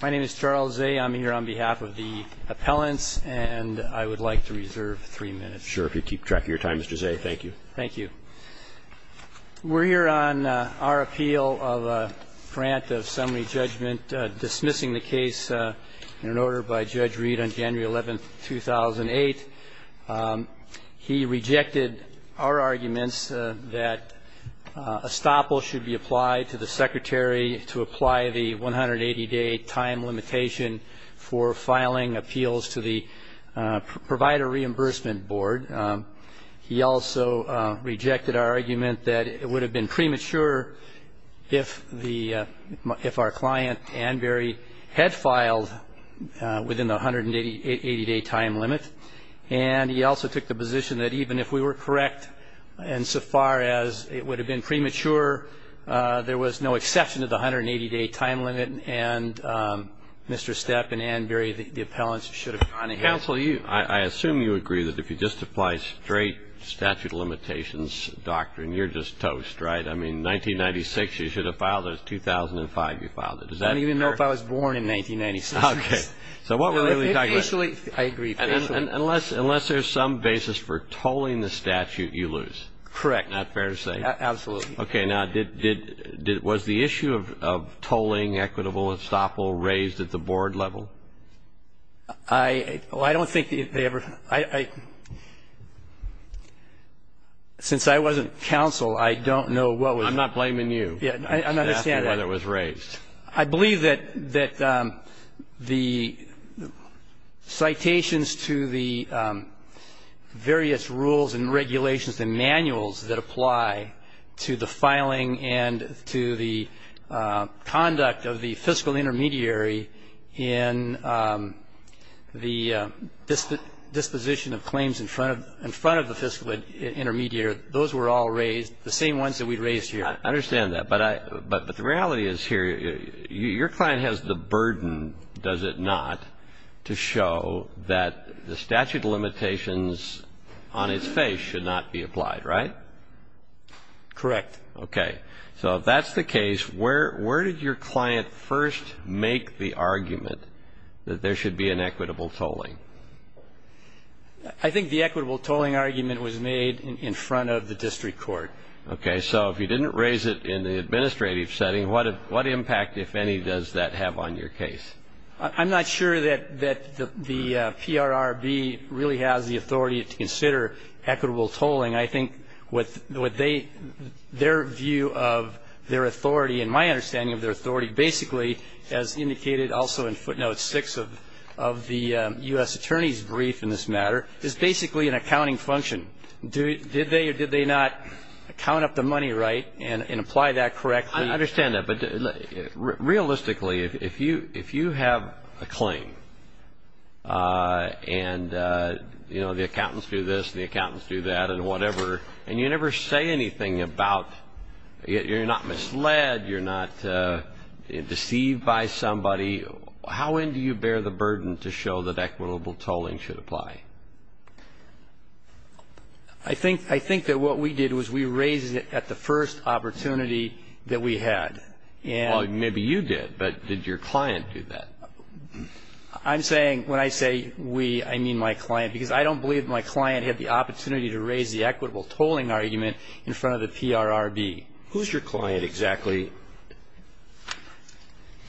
My name is Charles Zay. I'm here on behalf of the appellants, and I would like to reserve three minutes. Sure. If you keep track of your time, Mr. Zay, thank you. Thank you. We're here on our appeal of a grant of summary judgment dismissing the case in an order by Judge Reed on January 11, 2008. He rejected our arguments that a stopple should be applied to the secretary to apply the 180-day time limitation for filing appeals to the Provider Reimbursement Board. He also rejected our argument that it would have been premature if our client, Ann Berry, had filed within the 180-day time limit. And he also took the position that even if we were correct insofar as it would have been premature, there was no exception to the 180-day time limit, and Mr. Steppe and Ann Berry, the appellants, should have gone ahead. Counsel, I assume you agree that if you just apply straight statute of limitations doctrine, you're just toast, right? I mean, 1996, you should have filed it. 2005, you filed it. Does that occur? I didn't even know if I was born in 1996. Okay. So what were we talking about? I agree officially. Unless there's some basis for tolling the statute, you lose. Correct. Not fair to say. Absolutely. Okay. Now, was the issue of tolling equitable and stopple raised at the board level? I don't think they ever ---- since I wasn't counsel, I don't know what was ---- I'm not blaming you. I understand that. I'm just asking whether it was raised. I believe that the citations to the various rules and regulations and manuals that apply to the filing and to the conduct of the fiscal intermediary in the disposition of claims in front of the fiscal intermediary, those were all raised, the same ones that we raised here. I understand that. But the reality is here, your client has the burden, does it not, to show that the statute of limitations on its face should not be applied, right? Correct. Okay. So if that's the case, where did your client first make the argument that there should be an equitable tolling? I think the equitable tolling argument was made in front of the district court. Okay. So if you didn't raise it in the administrative setting, what impact, if any, does that have on your case? I'm not sure that the PRRB really has the authority to consider equitable tolling. I think their view of their authority and my understanding of their authority basically, as indicated also in footnote six of the U.S. Attorney's brief in this matter, is basically an accounting function. Did they or did they not count up the money right and apply that correctly? I understand that. Realistically, if you have a claim and, you know, the accountants do this and the accountants do that and whatever, and you never say anything about you're not misled, you're not deceived by somebody, how in do you bear the burden to show that equitable tolling should apply? I think that what we did was we raised it at the first opportunity that we had. Well, maybe you did, but did your client do that? I'm saying when I say we, I mean my client, because I don't believe my client had the opportunity to raise the equitable tolling argument in front of the PRRB. Who's your client exactly?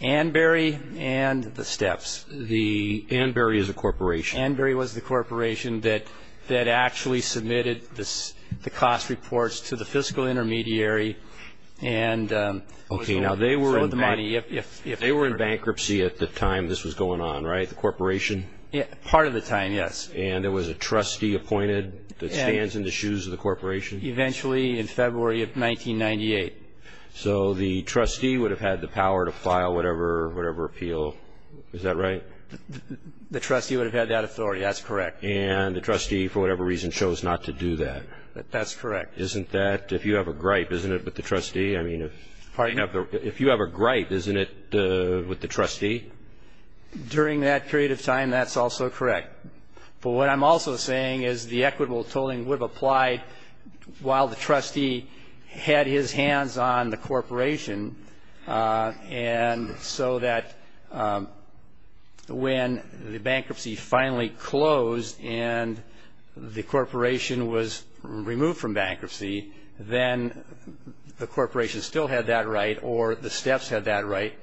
Ann Berry and the Steps. Ann Berry is a corporation. Ann Berry was the corporation that actually submitted the cost reports to the fiscal intermediary. Okay, now they were in bankruptcy at the time this was going on, right, the corporation? Part of the time, yes. And there was a trustee appointed that stands in the shoes of the corporation? Eventually in February of 1998. So the trustee would have had the power to file whatever appeal, is that right? The trustee would have had that authority, that's correct. And the trustee, for whatever reason, chose not to do that. That's correct. Isn't that, if you have a gripe, isn't it, with the trustee? If you have a gripe, isn't it with the trustee? During that period of time, that's also correct. But what I'm also saying is the equitable tolling would have applied while the trustee had his hands on the corporation and so that when the bankruptcy finally closed and the corporation was removed from bankruptcy, then the corporation still had that right or the steps had that right.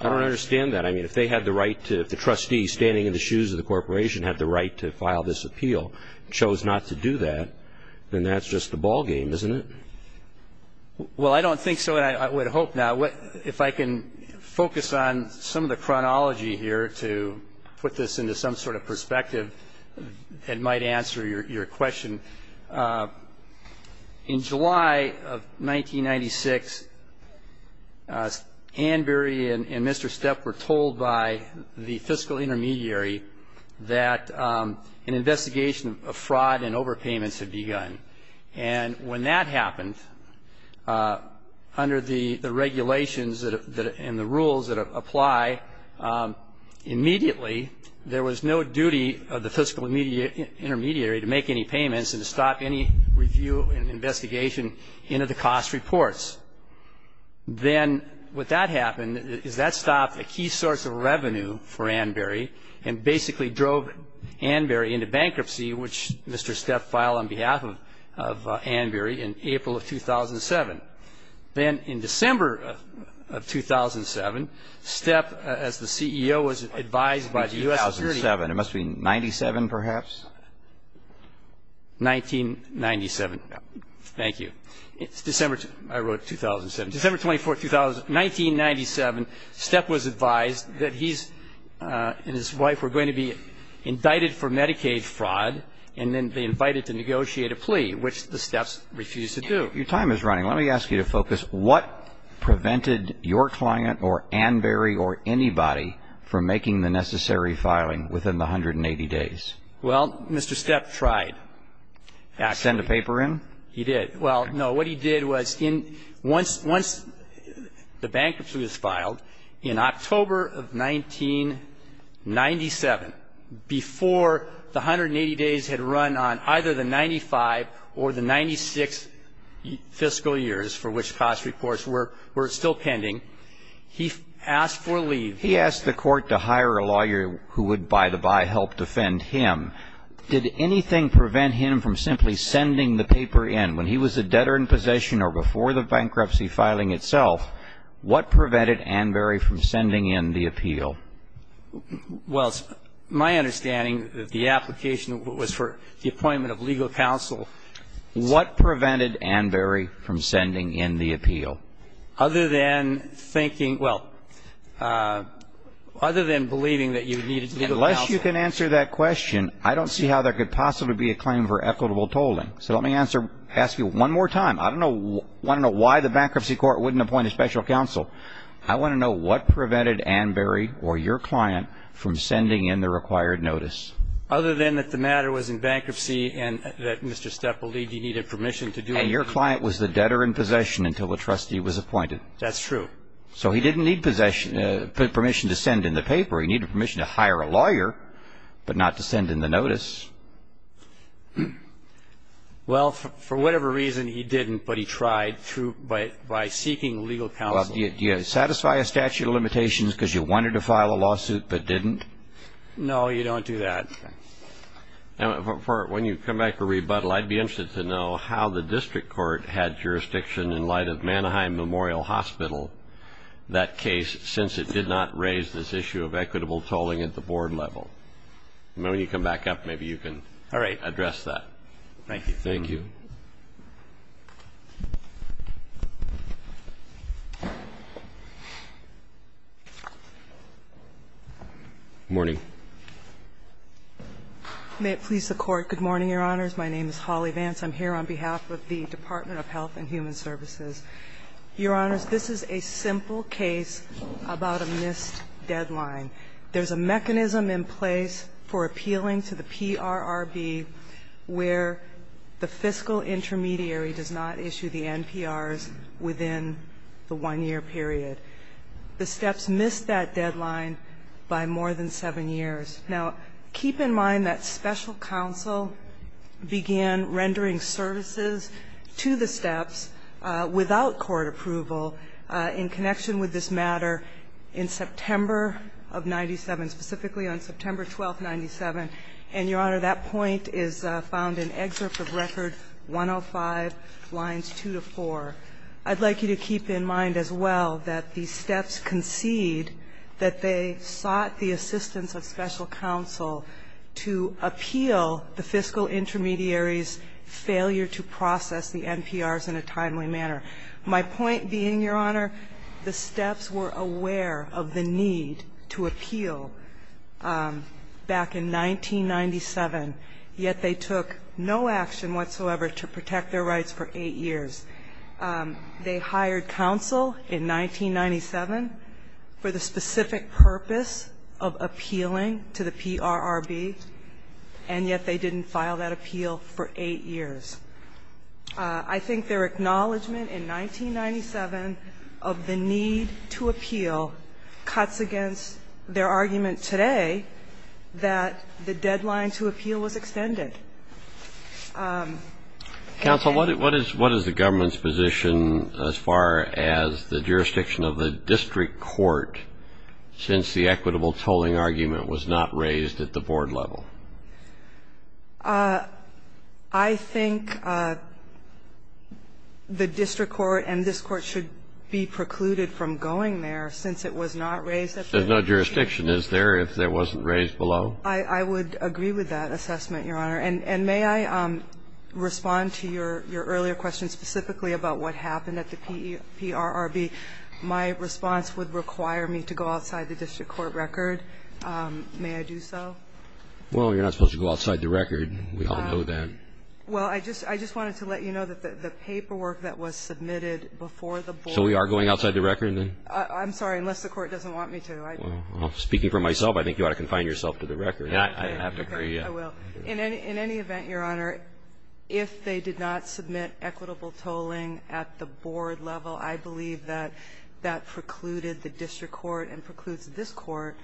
I don't understand that. I mean, if they had the right to, if the trustee standing in the shoes of the corporation had the right to file this appeal, chose not to do that, then that's just a ball game, isn't it? Well, I don't think so, and I would hope not. If I can focus on some of the chronology here to put this into some sort of perspective, it might answer your question. In July of 1996, Ann Berry and Mr. Stepp were told by the fiscal intermediary that an investigation of fraud and overpayments had begun. And when that happened, under the regulations and the rules that apply, immediately there was no duty of the fiscal intermediary to make any payments and to stop any review and investigation into the cost reports. Then what that happened is that stopped a key source of revenue for Ann Berry and basically drove Ann Berry into bankruptcy, which Mr. Stepp filed on behalf of Ann Berry in April of 2007. Then in December of 2007, Stepp, as the CEO was advised by the U.S. security It must have been 97, perhaps? 1997. Thank you. It's December, I wrote 2007. December 24, 1997, Stepp was advised that he and his wife were going to be indicted for Medicaid fraud, and then they invited to negotiate a plea, which the Stepps refused to do. Your time is running. Let me ask you to focus. What prevented your client or Ann Berry or anybody from making the necessary filing within the 180 days? Well, Mr. Stepp tried. Actually. Did he send a paper in? He did. Well, no. What he did was once the bankruptcy was filed, in October of 1997, before the 180 days had run on either the 95 or the 96 fiscal years for which cost reports were still pending, he asked for leave. He asked the court to hire a lawyer who would, by the by, help defend him. Did anything prevent him from simply sending the paper in? When he was a debtor in possession or before the bankruptcy filing itself, what prevented Ann Berry from sending in the appeal? Well, my understanding, the application was for the appointment of legal counsel. What prevented Ann Berry from sending in the appeal? Other than thinking, well, other than believing that you needed legal counsel. Unless you can answer that question, I don't see how there could possibly be a claim for equitable tolling. So let me ask you one more time. I want to know why the bankruptcy court wouldn't appoint a special counsel. I want to know what prevented Ann Berry or your client from sending in the required notice. Other than that the matter was in bankruptcy and that Mr. Stepp believed he needed permission to do it. And your client was the debtor in possession until the trustee was appointed. That's true. So he didn't need permission to send in the paper. He needed permission to hire a lawyer, but not to send in the notice. Well, for whatever reason he didn't, but he tried by seeking legal counsel. Do you satisfy a statute of limitations because you wanted to file a lawsuit but didn't? No, you don't do that. When you come back to rebuttal, I'd be interested to know how the district court had jurisdiction in light of Manaheim Memorial Hospital. That case, since it did not raise this issue of equitable tolling at the board level. Maybe when you come back up, maybe you can address that. All right. Thank you. Thank you. Good morning. May it please the Court. Good morning, Your Honors. My name is Holly Vance. I'm here on behalf of the Department of Health and Human Services. Your Honors, this is a simple case about a missed deadline. There's a mechanism in place for appealing to the PRRB where the fiscal intermediary does not issue the NPRs within the one-year period. The steps missed that deadline by more than seven years. Now, keep in mind that special counsel began rendering services to the steps without court approval in connection with this matter in September of 97, specifically on September 12, 97. And, Your Honor, that point is found in excerpt of Record 105, lines 2 to 4. I'd like you to keep in mind as well that the steps concede that they sought the assistance of special counsel to appeal the fiscal intermediary's failure to process the NPRs in a timely manner. My point being, Your Honor, the steps were aware of the need to appeal back in 1997, yet they took no action whatsoever to protect their rights for eight years. They hired counsel in 1997 for the specific purpose of appealing to the PRRB, and yet they didn't file that appeal for eight years. I think their acknowledgment in 1997 of the need to appeal cuts against their argument today that the deadline to appeal was extended. Counsel, what is the government's position as far as the jurisdiction of the district court since the equitable tolling argument was not raised at the board level? I think the district court and this court should be precluded from going there since it was not raised at the board level. There's no jurisdiction, is there, if it wasn't raised below? I would agree with that assessment, Your Honor. And may I respond to your earlier question specifically about what happened at the PRRB? My response would require me to go outside the district court record. May I do so? Well, you're not supposed to go outside the record. We all know that. Well, I just wanted to let you know that the paperwork that was submitted before the board So we are going outside the record, then? I'm sorry, unless the court doesn't want me to. Speaking for myself, I think you ought to confine yourself to the record. I have to agree. I will. In any event, Your Honor, if they did not submit equitable tolling at the board level, I believe that that precluded the district court and precludes this court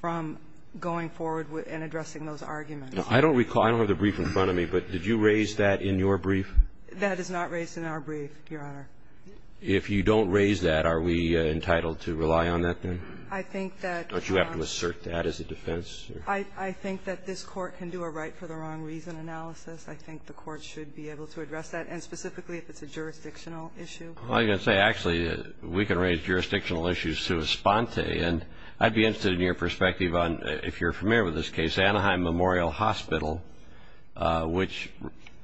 from going forward and addressing those arguments. I don't recall. I don't have the brief in front of me, but did you raise that in your brief? That is not raised in our brief, Your Honor. If you don't raise that, are we entitled to rely on that, then? I think that Don't you have to assert that as a defense? I think that this court can do a right for the wrong reason analysis. I think the court should be able to address that, and specifically if it's a jurisdictional issue. Well, I was going to say, actually, we can raise jurisdictional issues sua sponte. And I'd be interested in your perspective on, if you're familiar with this case, Anaheim Memorial Hospital, which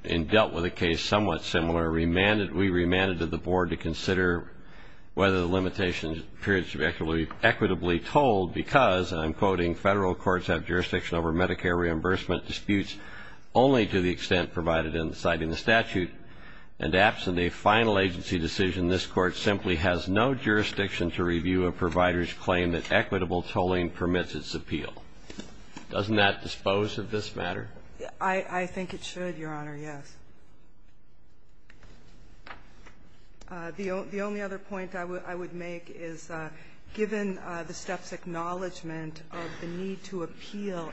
in dealt with a case somewhat similar, remanded to the board to consider whether the limitations appeared to be equitably tolled because, and I'm quoting, federal courts have jurisdiction over Medicare reimbursement disputes only to the extent provided in the statute. And absent a final agency decision, this court simply has no jurisdiction to review a provider's claim that equitable tolling permits its appeal. Doesn't that dispose of this matter? I think it should, Your Honor, yes. The only other point I would make is, given the steps acknowledgment of the need to appeal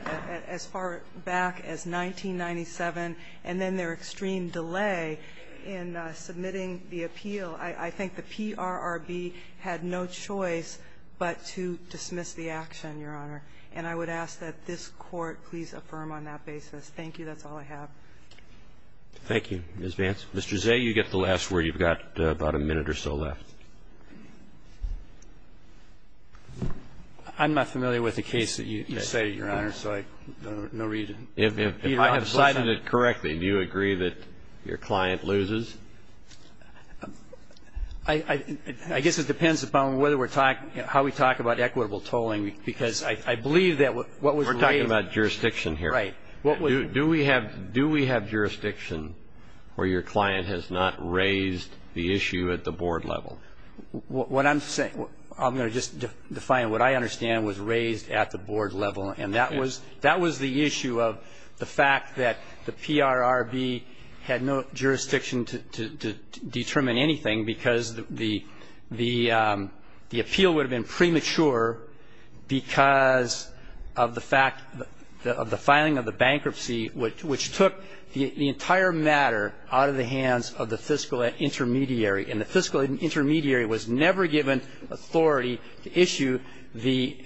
as far back as 1997 and then their extreme delay in submitting the appeal, I think the PRRB had no choice but to dismiss the action, Your Honor. And I would ask that this court please affirm on that basis. Thank you. That's all I have. Thank you, Ms. Vance. Mr. Zay, you get the last word. You've got about a minute or so left. I'm not familiar with the case that you say, Your Honor, so I have no reason. If I have cited it correctly, do you agree that your client loses? I guess it depends upon whether we're talking, how we talk about equitable tolling, because I believe that what was raised. We're talking about jurisdiction here. Right. Do we have jurisdiction where your client has not raised the issue at the board level? What I'm saying, I'm going to just define what I understand was raised at the board level, and that was the issue of the fact that the PRRB had no jurisdiction to determine anything because the appeal would have been premature because of the fact of the filing of the bankruptcy, which took the entire matter out of the hands of the fiscal intermediary, and the fiscal intermediary was never given authority to issue the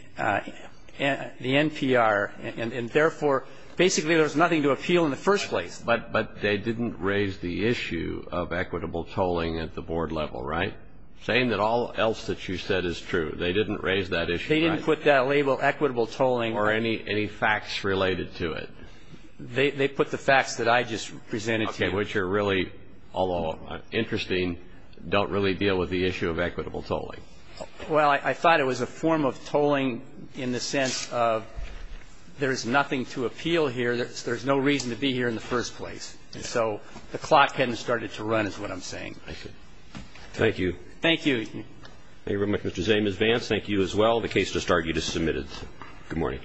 NPR, and therefore, basically, there was nothing to appeal in the first place. But they didn't raise the issue of equitable tolling at the board level, right? Saying that all else that you said is true, they didn't raise that issue, right? They didn't put that label, equitable tolling. Or any facts related to it? They put the facts that I just presented to you. Okay. Which are really, although interesting, don't really deal with the issue of equitable tolling. Well, I thought it was a form of tolling in the sense of there's nothing to appeal here. There's no reason to be here in the first place. And so the clock hadn't started to run is what I'm saying. Thank you. Thank you. Thank you very much, Mr. Zane. Ms. Vance, thank you as well. The case just argued is submitted. Good morning.